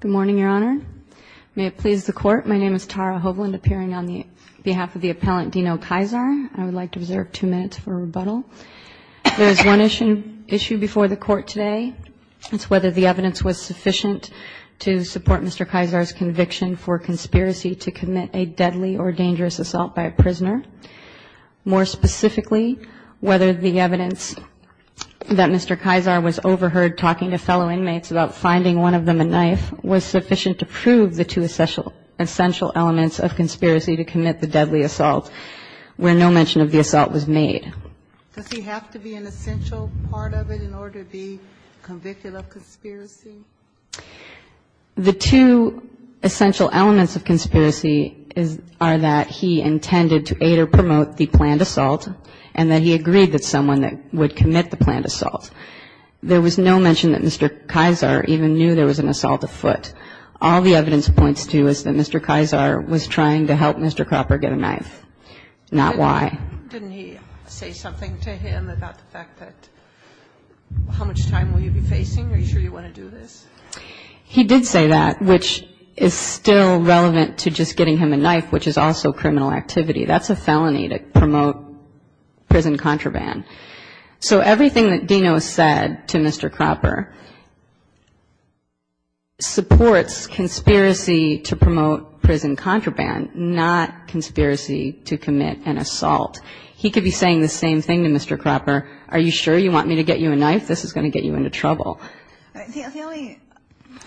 Good morning, Your Honor. May it please the Court, my name is Tara Hovland, appearing on behalf of the appellant Dino Kyzar. I would like to reserve two minutes for rebuttal. There is one issue before the Court today. It's whether the evidence was sufficient to support Mr. Kyzar's conviction for conspiracy to commit a deadly or dangerous assault by a prisoner. More specifically, whether the evidence that Mr. Kyzar was overheard talking to fellow inmates about finding one of them a knife was sufficient to prove the two essential elements of conspiracy to commit the deadly assault where no mention of the assault was made. Does he have to be an essential part of it in order to be convicted of conspiracy? The two essential elements of conspiracy are that he intended to aid or promote the planned assault and that he agreed that someone would commit the planned assault. There was no mention that Mr. Kyzar even knew there was an assault afoot. All the evidence points to is that Mr. Kyzar was trying to help Mr. Cropper get a knife, not why. Didn't he say something to him about the fact that how much time will you be facing? Are you sure you want to do this? He did say that, which is still relevant to just getting him a knife, which is also criminal activity. That's a felony to promote prison contraband. So everything that Dino said to Mr. Cropper supports conspiracy to promote prison contraband, not conspiracy to commit an assault. He could be saying the same thing to Mr. Cropper. Are you sure you want me to get you a knife? This is going to get you into trouble. The only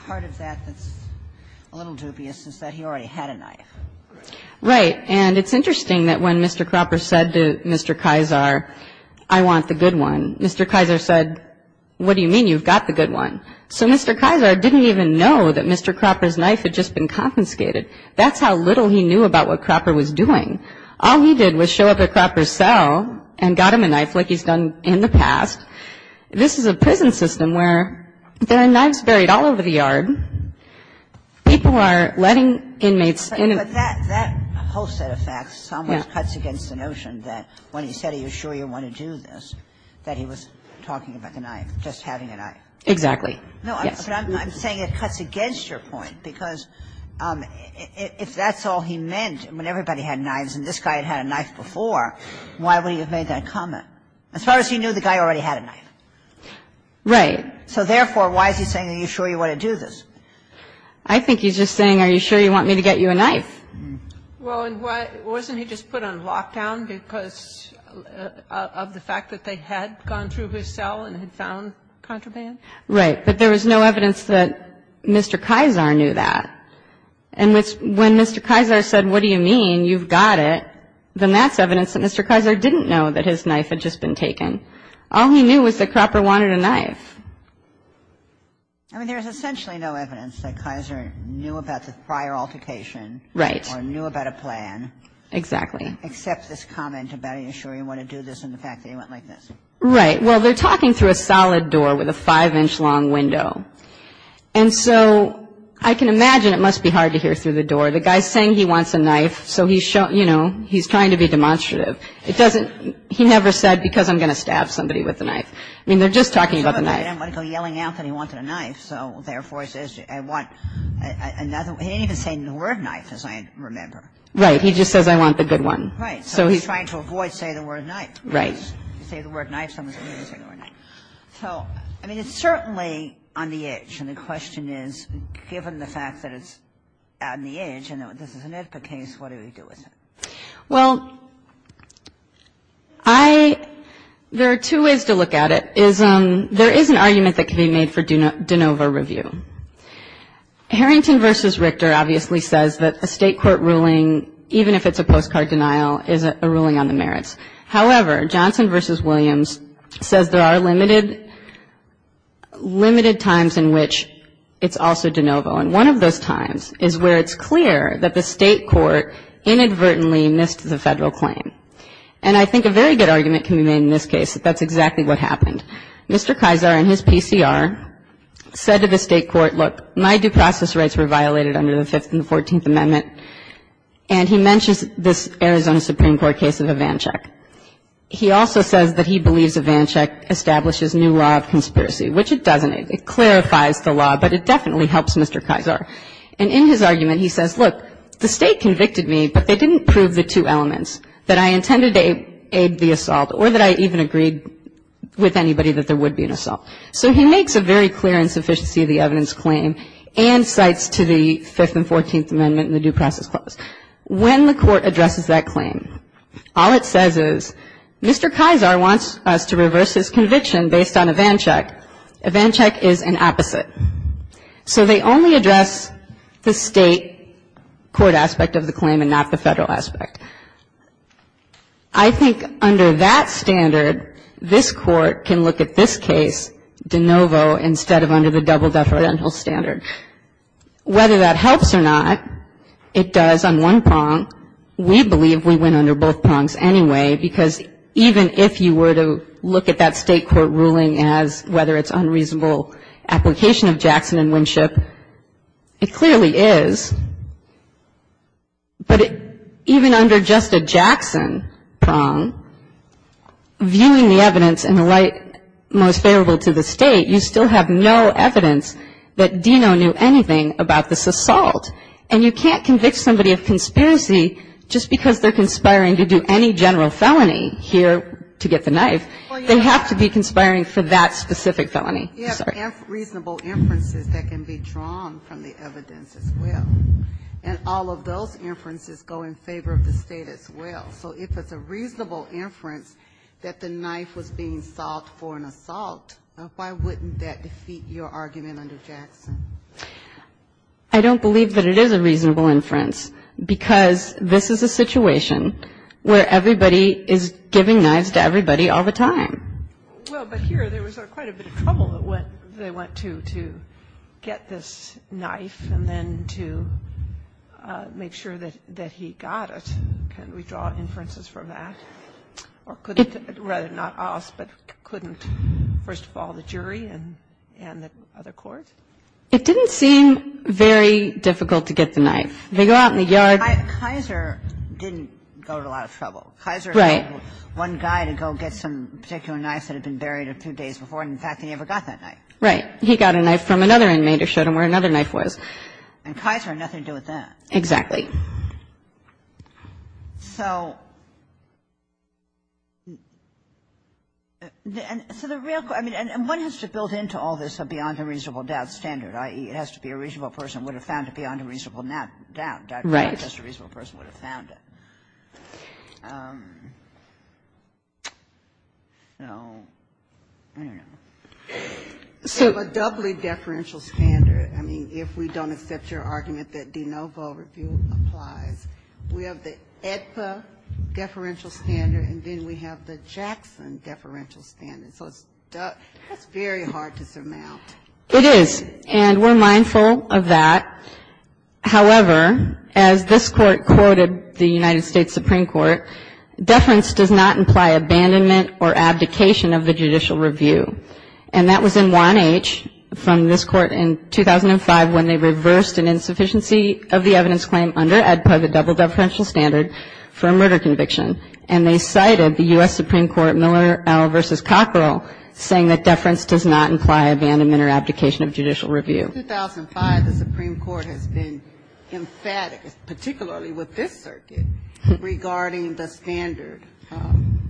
part of that that's a little dubious is that he already had a knife. Right. And it's interesting that when Mr. Cropper said to Mr. Kyzar, I want the good one, Mr. Kyzar said, what do you mean you've got the good one? So Mr. Kyzar didn't even know that Mr. Cropper's knife had just been confiscated. That's how little he knew about what Cropper was doing. All he did was show up at Cropper's cell and got him a knife like he's done in the past. This is a prison system where there are knives buried all over the yard. People are letting inmates in and out. But that whole set of facts somewhat cuts against the notion that when he said are you sure you want to do this, that he was talking about the knife, just having a knife. Exactly. No, I'm saying it cuts against your point, because if that's all he meant when everybody had knives and this guy had had a knife before, why would he have made that comment? As far as he knew, the guy already had a knife. Right. So therefore, why is he saying are you sure you want to do this? I think he's just saying are you sure you want me to get you a knife? Well, and wasn't he just put on lockdown because of the fact that they had gone through his cell and had found contraband? Right. But there was no evidence that Mr. Kyzar knew that. And when Mr. Kyzar said what do you mean, you've got it, then that's evidence that Mr. Kyzar didn't know that his knife had just been taken. All he knew was that Cropper wanted a knife. I mean, there's essentially no evidence that Kyzar knew about the prior altercation. Right. Or knew about a plan. Exactly. Except this comment about are you sure you want to do this and the fact that he went like this. Right. Well, they're talking through a solid door with a 5-inch long window. And so I can imagine it must be hard to hear through the door. The guy's saying he wants a knife, so he's trying to be demonstrative. It doesn't he never said because I'm going to stab somebody with a knife. I mean, they're just talking about the knife. He didn't want to go yelling out that he wanted a knife. So, therefore, he says I want another. He didn't even say the word knife, as I remember. Right. He just says I want the good one. Right. So he's trying to avoid saying the word knife. Right. If you say the word knife, someone's going to say the word knife. So, I mean, it's certainly on the edge. And the question is, given the fact that it's on the edge and this is an Ithaca case, what do we do with it? Well, there are two ways to look at it. There is an argument that can be made for de novo review. Harrington v. Richter obviously says that a state court ruling, even if it's a postcard denial, is a ruling on the merits. However, Johnson v. Williams says there are limited times in which it's also de novo. And one of those times is where it's clear that the state court inadvertently missed the Federal claim. And I think a very good argument can be made in this case that that's exactly what happened. Mr. Kaiser, in his PCR, said to the state court, look, my due process rights were violated under the Fifth and the Fourteenth Amendment. And he mentions this Arizona Supreme Court case of Ivanchuk. He also says that he believes Ivanchuk establishes new law of conspiracy, which it doesn't. It clarifies the law, but it definitely helps Mr. Kaiser. And in his argument, he says, look, the state convicted me, but they didn't prove the two elements that I intended to aid the assault or that I even agreed with anybody that there would be an assault. So he makes a very clear insufficiency of the evidence claim and cites to the Fifth and Fourteenth Amendment and the due process clause. When the court addresses that claim, all it says is Mr. Kaiser wants us to reverse his conviction based on Ivanchuk. Ivanchuk is an opposite. So they only address the state court aspect of the claim and not the Federal aspect. I think under that standard, this Court can look at this case de novo instead of under the double deferential standard. Whether that helps or not, it does on one prong. We believe we win under both prongs anyway, because even if you were to look at that state court ruling as whether it's unreasonable application of Jackson and Winship, it clearly is, but even under just a Jackson prong, viewing the evidence in the light most favorable to the state, you still have no evidence that Deno knew anything about this assault. And you can't convict somebody of conspiracy just because they're conspiring to do any general felony here to get the knife. They have to be conspiring for that specific felony. I'm sorry. Ginsburg. You have reasonable inferences that can be drawn from the evidence as well. And all of those inferences go in favor of the State as well. So if it's a reasonable inference that the knife was being sought for an assault, why wouldn't that defeat your argument under Jackson? I don't believe that it is a reasonable inference, because this is a situation where everybody is giving knives to everybody all the time. Well, but here there was quite a bit of trouble that went to get this knife and then to make sure that he got it. Can we draw inferences from that? Or rather not us, but couldn't, first of all, the jury and the other courts? It didn't seem very difficult to get the knife. They go out in the yard. Kaiser didn't go to a lot of trouble. Right. Kaiser had one guy to go get some particular knife that had been buried a few days before, and, in fact, he never got that knife. Right. He got a knife from another inmate or showed him where another knife was. And Kaiser had nothing to do with that. Exactly. So the real question, and one has to build into all this beyond a reasonable doubt. That standard, i.e., it has to be a reasonable person, would have found it beyond a reasonable doubt. Right. Just a reasonable person would have found it. You know, I don't know. So a doubly deferential standard, I mean, if we don't accept your argument that de novo review applies, we have the AEDPA deferential standard, and then we have the Jackson deferential standard. So it's very hard to surmount. It is. And we're mindful of that. However, as this Court quoted the United States Supreme Court, deference does not imply abandonment or abdication of the judicial review. And that was in 1H from this Court in 2005 when they reversed an insufficiency of the evidence claim under AEDPA, the double deferential standard, for a murder conviction. And they cited the U.S. Supreme Court, Miller v. Cockerell, saying that deference does not imply abandonment or abdication of judicial review. In 2005, the Supreme Court has been emphatic, particularly with this circuit, regarding the standard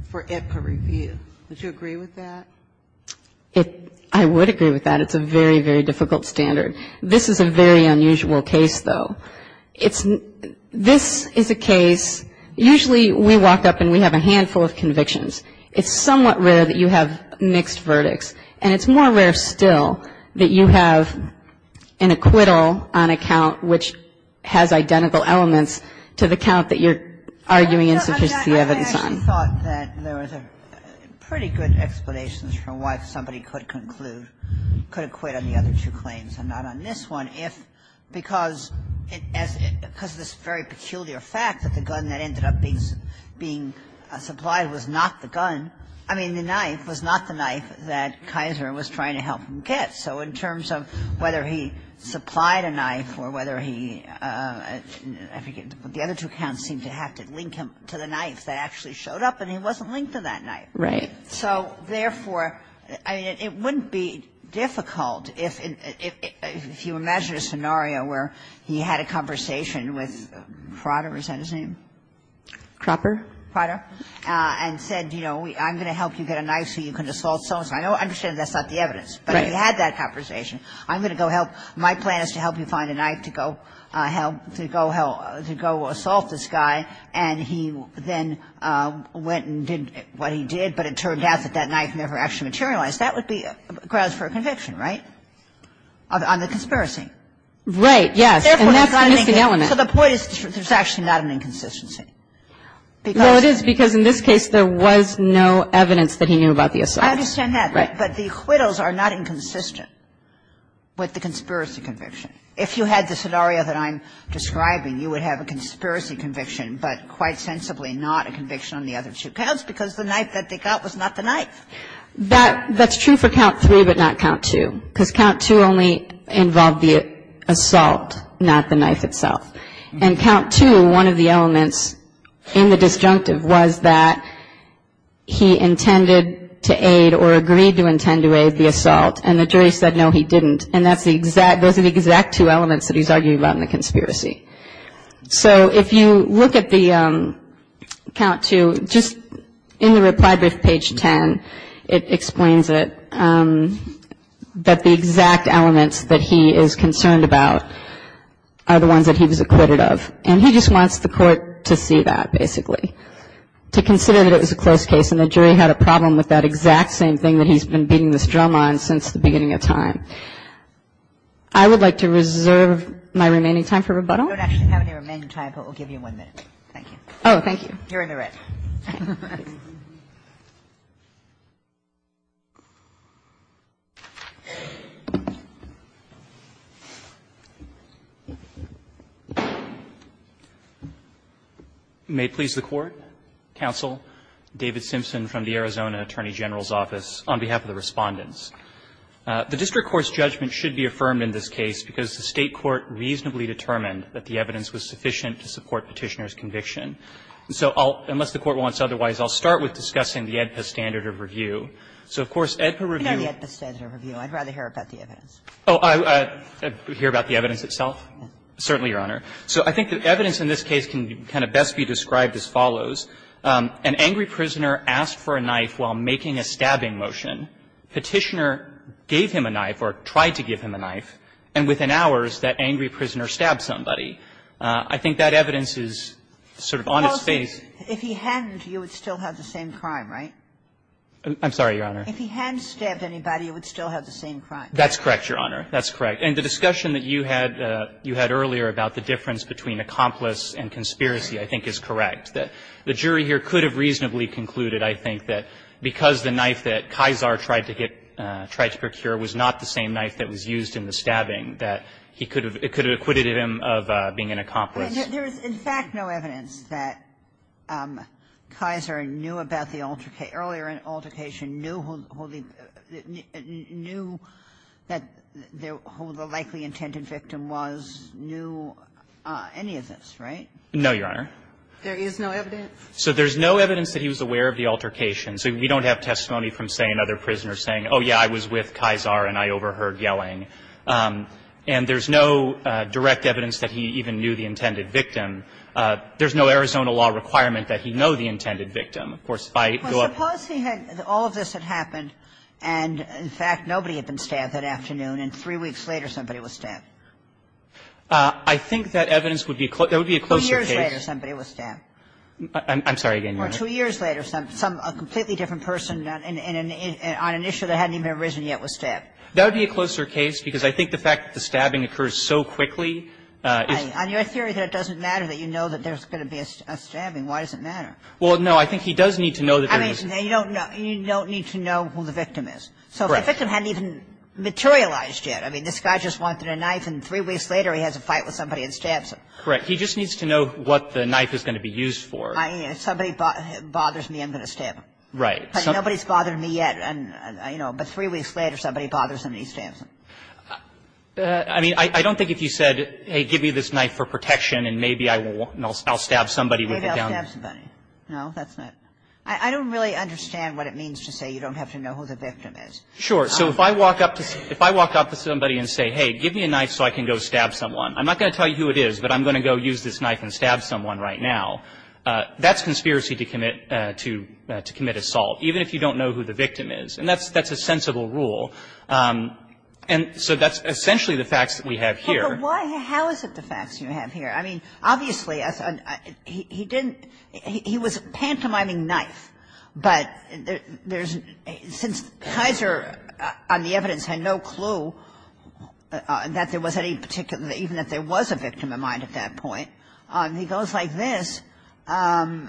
for AEDPA review. Would you agree with that? I would agree with that. It's a very, very difficult standard. This is a very unusual case, though. This is a case, usually we walk up and we have a handful of convictions. It's somewhat rare that you have mixed verdicts. And it's more rare still that you have an acquittal on a count which has identical elements to the count that you're arguing insufficiency of evidence on. I actually thought that there was a pretty good explanation for why somebody could conclude, could acquit on the other two claims and not on this one, if because of this very peculiar fact that the gun that ended up being supplied was not the gun, I mean, the knife was not the knife that Kaiser was trying to help him get. So in terms of whether he supplied a knife or whether he, I forget, but the other two counts seemed to have to link him to the knife that actually showed up, and he wasn't linked to that knife. Right. So therefore, I mean, it wouldn't be difficult if you imagine a scenario where he had a conversation with Crotter, is that his name? Crotter, and said, you know, I'm going to help you get a knife so you can assault so-and-so. I understand that's not the evidence. Right. But he had that conversation. I'm going to go help. My plan is to help you find a knife to go help, to go help, to go assault this guy, and he then went and did what he did, but it turned out that that knife never actually materialized. That would be grounds for a conviction, right, on the conspiracy? Right, yes. And that's the missing element. So the point is there's actually not an inconsistency. Well, it is because in this case there was no evidence that he knew about the assault. I understand that. Right. But the acquittals are not inconsistent with the conspiracy conviction. If you had the scenario that I'm describing, you would have a conspiracy conviction, but quite sensibly not a conviction on the other two counts because the knife that they got was not the knife. That's true for count three but not count two, because count two only involved the assault, not the knife itself. And count two, one of the elements in the disjunctive was that he intended to aid or agreed to intend to aid the assault, and the jury said no, he didn't. And those are the exact two elements that he's arguing about in the conspiracy. So if you look at the count two, just in the reply brief, page 10, it explains it, that the exact elements that he is concerned about are the ones that he was acquitted of. And he just wants the Court to see that, basically, to consider that it was a close case and the jury had a problem with that exact same thing that he's been beating this drum on since the beginning of time. I would like to reserve my remaining time for rebuttal. We don't actually have any remaining time, but we'll give you one minute. Thank you. Oh, thank you. You're in the red. You're in the red. May it please the Court. Counsel, David Simpson from the Arizona Attorney General's Office, on behalf of the Respondents. The district court's judgment should be affirmed in this case because the State Court reasonably determined that the evidence was sufficient to support Petitioner's conviction. So I'll, unless the Court wants otherwise, I'll start with discussing the AEDPA standard of review. So, of course, AEDPA review. We know the AEDPA standard of review. I'd rather hear about the evidence. Oh, hear about the evidence itself? Certainly, Your Honor. So I think the evidence in this case can kind of best be described as follows. An angry prisoner asked for a knife while making a stabbing motion. Petitioner gave him a knife or tried to give him a knife. And within hours, that angry prisoner stabbed somebody. I think that evidence is sort of on its face. If he hadn't, you would still have the same crime, right? I'm sorry, Your Honor. If he hadn't stabbed anybody, you would still have the same crime. That's correct, Your Honor. That's correct. And the discussion that you had earlier about the difference between accomplice and conspiracy I think is correct, that the jury here could have reasonably concluded, I think, that because the knife that Kisar tried to get, tried to procure was not the same knife that was used in the stabbing, that he could have, it could have acquitted him of being an accomplice. There is, in fact, no evidence that Kisar knew about the altercation, earlier altercation, knew who the likely intended victim was, knew any of this, right? No, Your Honor. There is no evidence? So there's no evidence that he was aware of the altercation. So we don't have testimony from, say, another prisoner saying, oh, yeah, I was with Kisar and I overheard yelling. And there's no direct evidence that he even knew the intended victim. There's no Arizona law requirement that he know the intended victim. Of course, by law. Well, suppose he had, all of this had happened and, in fact, nobody had been stabbed that afternoon and three weeks later somebody was stabbed. I think that evidence would be a closer case. Two years later somebody was stabbed. I'm sorry again, Your Honor. Or two years later, some, a completely different person on an issue that hadn't even arisen yet was stabbed. That would be a closer case because I think the fact that the stabbing occurs so quickly is. On your theory that it doesn't matter that you know that there's going to be a stabbing, why does it matter? Well, no, I think he does need to know that there was. I mean, you don't need to know who the victim is. Correct. So if the victim hadn't even materialized yet. I mean, this guy just wanted a knife and three weeks later he has a fight with somebody and stabs him. Correct. He just needs to know what the knife is going to be used for. Somebody bothers me, I'm going to stab him. Right. Nobody's bothered me yet, but three weeks later somebody bothers him and he stabs him. I mean, I don't think if you said, hey, give me this knife for protection and maybe I'll stab somebody with it. Maybe I'll stab somebody. No, that's not. I don't really understand what it means to say you don't have to know who the victim is. Sure. So if I walk up to somebody and say, hey, give me a knife so I can go stab someone. I'm not going to tell you who it is, but I'm going to go use this knife and stab someone right now. That's conspiracy to commit assault. Even if you don't know who the victim is. And that's a sensible rule. And so that's essentially the facts that we have here. But how is it the facts you have here? I mean, obviously he didn't he was pantomiming knife, but there's since Kaiser on the evidence had no clue that there was any particular, even if there was a victim of mine at that point, he goes like this. I don't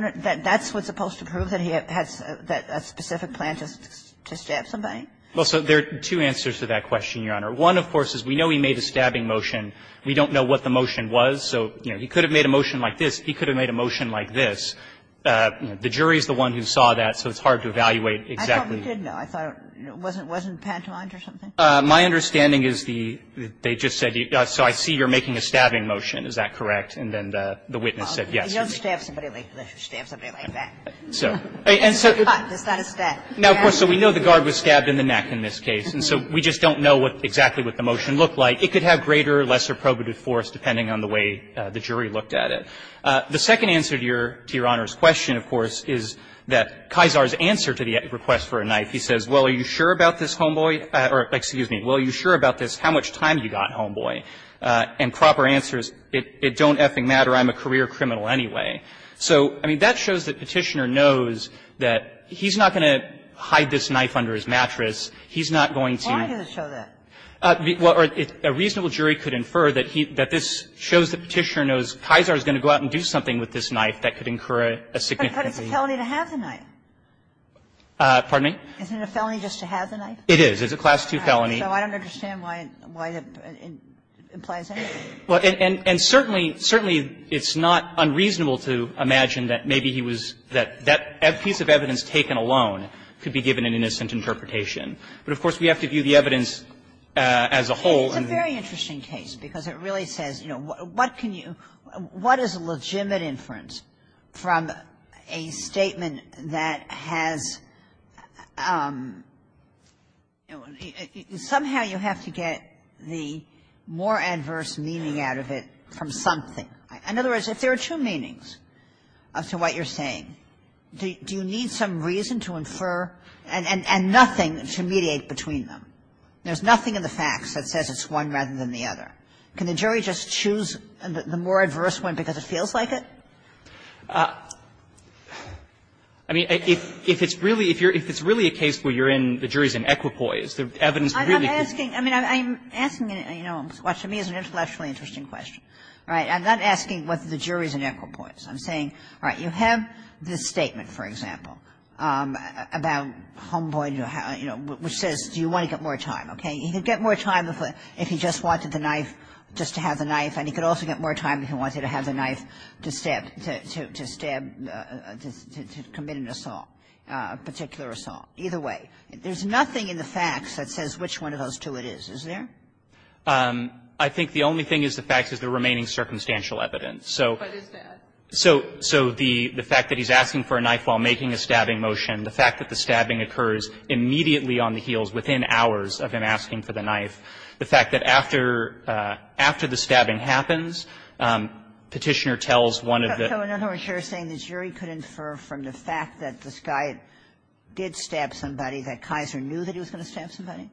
know. That's what's supposed to prove that he has a specific plan to stab somebody? Well, so there are two answers to that question, Your Honor. One, of course, is we know he made a stabbing motion. We don't know what the motion was. So, you know, he could have made a motion like this. He could have made a motion like this. The jury is the one who saw that, so it's hard to evaluate exactly. I thought we did know. I thought it wasn't pantomimed or something. My understanding is the they just said, so I see you're making a stabbing motion. Is that correct? And then the witness said, yes. He knows to stab somebody like that. So. And so. It's not a stab. No, of course. So we know the guard was stabbed in the neck in this case, and so we just don't know what exactly what the motion looked like. It could have greater or lesser probative force depending on the way the jury looked at it. The second answer to Your Honor's question, of course, is that Kaiser's answer to the request for a knife, he says, well, are you sure about this, homeboy? Or, excuse me, well, are you sure about this, how much time you got, homeboy? And proper answer is, it don't effing matter. I'm a career criminal anyway. So, I mean, that shows that Petitioner knows that he's not going to hide this knife under his mattress. He's not going to. Why does it show that? Well, a reasonable jury could infer that this shows that Petitioner knows Kaiser is going to go out and do something with this knife that could incur a significant fee. But it's a felony to have the knife. Pardon me? Isn't it a felony just to have the knife? It is. It's a Class II felony. So I don't understand why that implies anything. Well, and certainly, certainly it's not unreasonable to imagine that maybe he was that that piece of evidence taken alone could be given an innocent interpretation. But, of course, we have to view the evidence as a whole. It's a very interesting case, because it really says, you know, what can you – what is a legitimate inference from a statement that has – somehow you have to get the more adverse meaning out of it from something. In other words, if there are two meanings to what you're saying, do you need some reason to infer and nothing to mediate between them? There's nothing in the facts that says it's one rather than the other. Can the jury just choose the more adverse one because it feels like it? I mean, if it's really – if you're – if it's really a case where you're in – the jury's in equipoise, the evidence really could be – I'm asking – I mean, I'm asking, you know, what to me is an intellectually interesting question, right? I'm not asking whether the jury's in equipoise. I'm saying, all right, you have this statement, for example, about Homeboy, you know, which says do you want to get more time, okay? He could get more time if he just wanted the knife, just to have the knife, and he could also get more time if he wanted to have the knife to stab – to stab – to commit an assault, a particular assault, either way. There's nothing in the facts that says which one of those two it is, is there? I think the only thing is the facts is the remaining circumstantial evidence. So the fact that he's asking for a knife while making a stabbing motion, the fact that the stabbing occurs immediately on the heels, within hours of him asking for the knife, the fact that after – after the stabbing happens, Petitioner tells one of the – So in other words, you're saying the jury could infer from the fact that this guy did stab somebody that Kaiser knew that he was going to stab somebody?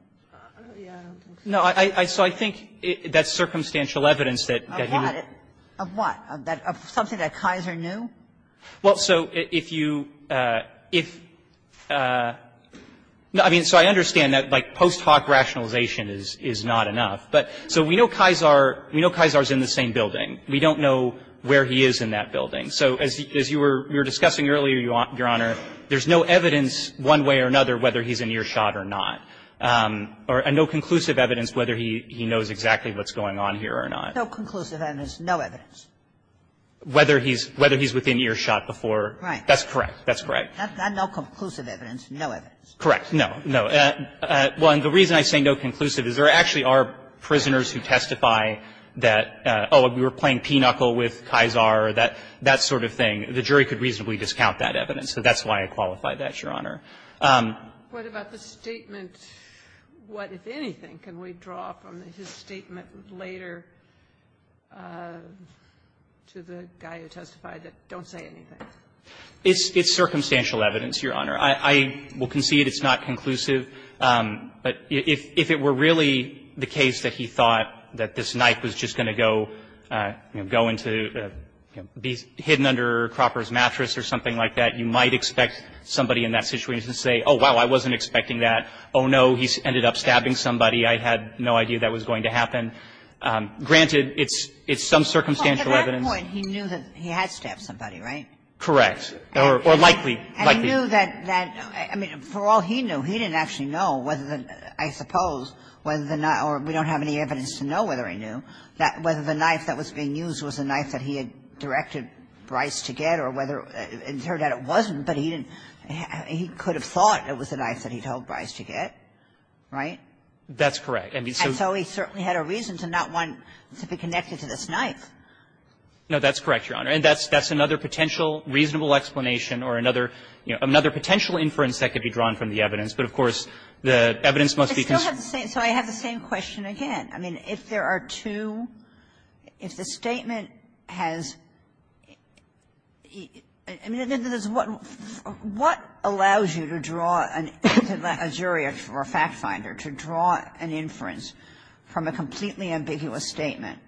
No. So I think that's circumstantial evidence that he would – Of what? Of something that Kaiser knew? Well, so if you – if – I mean, so I understand that, like, post hoc rationalization is not enough, but so we know Kaiser – we know Kaiser's in the same building. We don't know where he is in that building. So as you were discussing earlier, Your Honor, there's no evidence one way or another whether he's in earshot or not, or no conclusive evidence whether he knows exactly what's going on here or not. No conclusive evidence, no evidence. Whether he's – whether he's within earshot before – Right. That's correct. That's correct. Not no conclusive evidence, no evidence. Correct. No. No. Well, and the reason I say no conclusive is there actually are prisoners who testify that, oh, we were playing P-knuckle with Kaiser, that sort of thing. The jury could reasonably discount that evidence. So that's why I qualify that, Your Honor. What about the statement – what, if anything, can we draw from his statement later to the guy who testified that, don't say anything? It's – it's circumstantial evidence, Your Honor. I will concede it's not conclusive. But if it were really the case that he thought that this knife was just going to go into – be hidden under Cropper's mattress or something like that, you might expect somebody in that situation to say, oh, wow, I wasn't expecting that. Oh, no, he ended up stabbing somebody. I had no idea that was going to happen. Granted, it's – it's some circumstantial evidence. Well, at that point, he knew that he had stabbed somebody, right? Correct. Or likely. Likely. And he knew that – I mean, for all he knew, he didn't actually know whether the – I suppose whether the – or we don't have any evidence to know whether he knew that whether the knife that was being used was the knife that he had directed Bryce to get or whether – it turned out it wasn't, but he didn't – he could have thought it was the knife that he told Bryce to get. Right? That's correct. And so he certainly had a reason to not want to be connected to this knife. No, that's correct, Your Honor. And that's – that's another potential reasonable explanation or another – you know, another potential inference that could be drawn from the evidence. But, of course, the evidence must be considered. I still have the same – so I have the same question again. I mean, if there are two – if the statement has – I mean, what allows you to draw a jury or a fact finder to draw an inference from a completely ambiguous statement,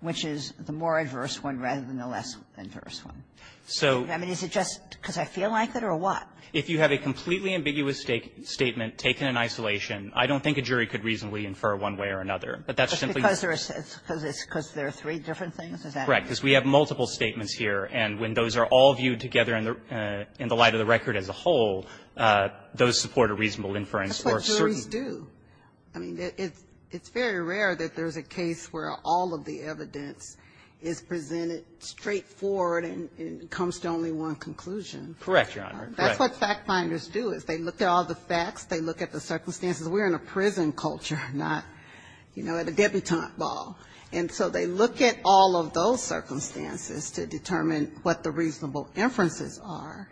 which is the more adverse one rather than the less adverse one? So – I mean, is it just because I feel like it or what? If you have a completely ambiguous statement taken in isolation, I don't think a jury could reasonably infer one way or another. But that's simply – Because there are – because there are three different things? Is that – Because we have multiple statements here. And when those are all viewed together in the light of the record as a whole, those support a reasonable inference for a certain – That's what juries do. I mean, it's very rare that there's a case where all of the evidence is presented straightforward and comes to only one conclusion. Correct, Your Honor. Correct. That's what fact finders do, is they look at all the facts. They look at the circumstances. We're in a prison culture, not, you know, at a debutante ball. And so they look at all of those circumstances to determine what the reasonable inferences are.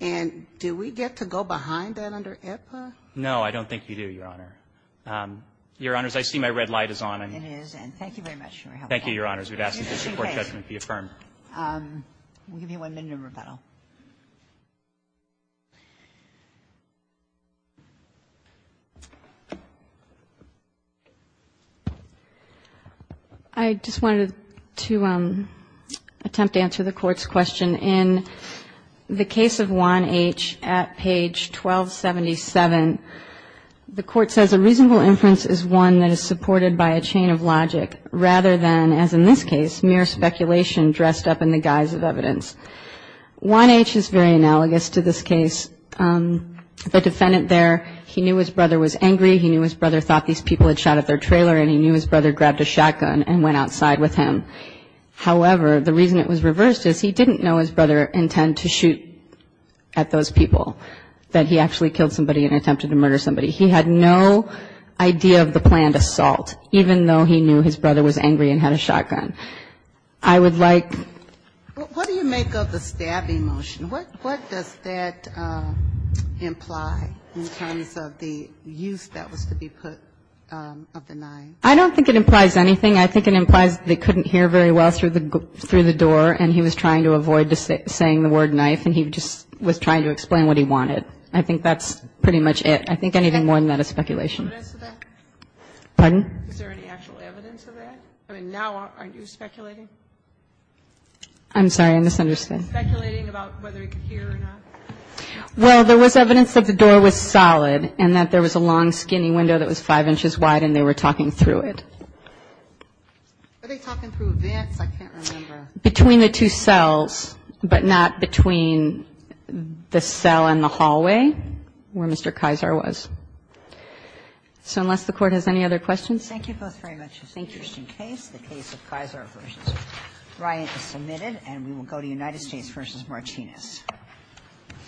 And do we get to go behind that under IPPA? No, I don't think you do, Your Honor. Your Honors, I see my red light is on. It is. And thank you very much, Your Honor. Thank you, Your Honors. We'd ask that the support judgment be affirmed. We'll give you one minute in rebuttal. I just wanted to attempt to answer the Court's question. In the case of Juan H. at page 1277, the Court says a reasonable inference is one that is supported by a chain of logic rather than, as in this case, mere speculation dressed up in the guise of evidence. Juan H. is very analogous to this case. The defendant there, he knew his brother was angry. He knew his brother thought these people had shot at their trailer, and he knew his brother grabbed a shotgun and went outside with him. However, the reason it was reversed is he didn't know his brother intended to shoot at those people, that he actually killed somebody and attempted to murder somebody. He had no idea of the planned assault, even though he knew his brother was angry and had a shotgun. I would like to ask a question. When you think of the stabbing motion, what does that imply in terms of the use that was to be put of the knife? I don't think it implies anything. I think it implies they couldn't hear very well through the door, and he was trying to avoid saying the word knife, and he just was trying to explain what he wanted. I think that's pretty much it. I think anything more than that is speculation. Is there any evidence of that? Pardon? Is there any actual evidence of that? I mean, now aren't you speculating? I'm sorry. I misunderstood. Speculating about whether he could hear or not? Well, there was evidence that the door was solid and that there was a long, skinny window that was 5 inches wide and they were talking through it. Were they talking through vents? I can't remember. Between the two cells, but not between the cell and the hallway where Mr. Kaiser So unless the Court has any other questions. Thank you both very much. Thank you. And we are adjourned. Thank you.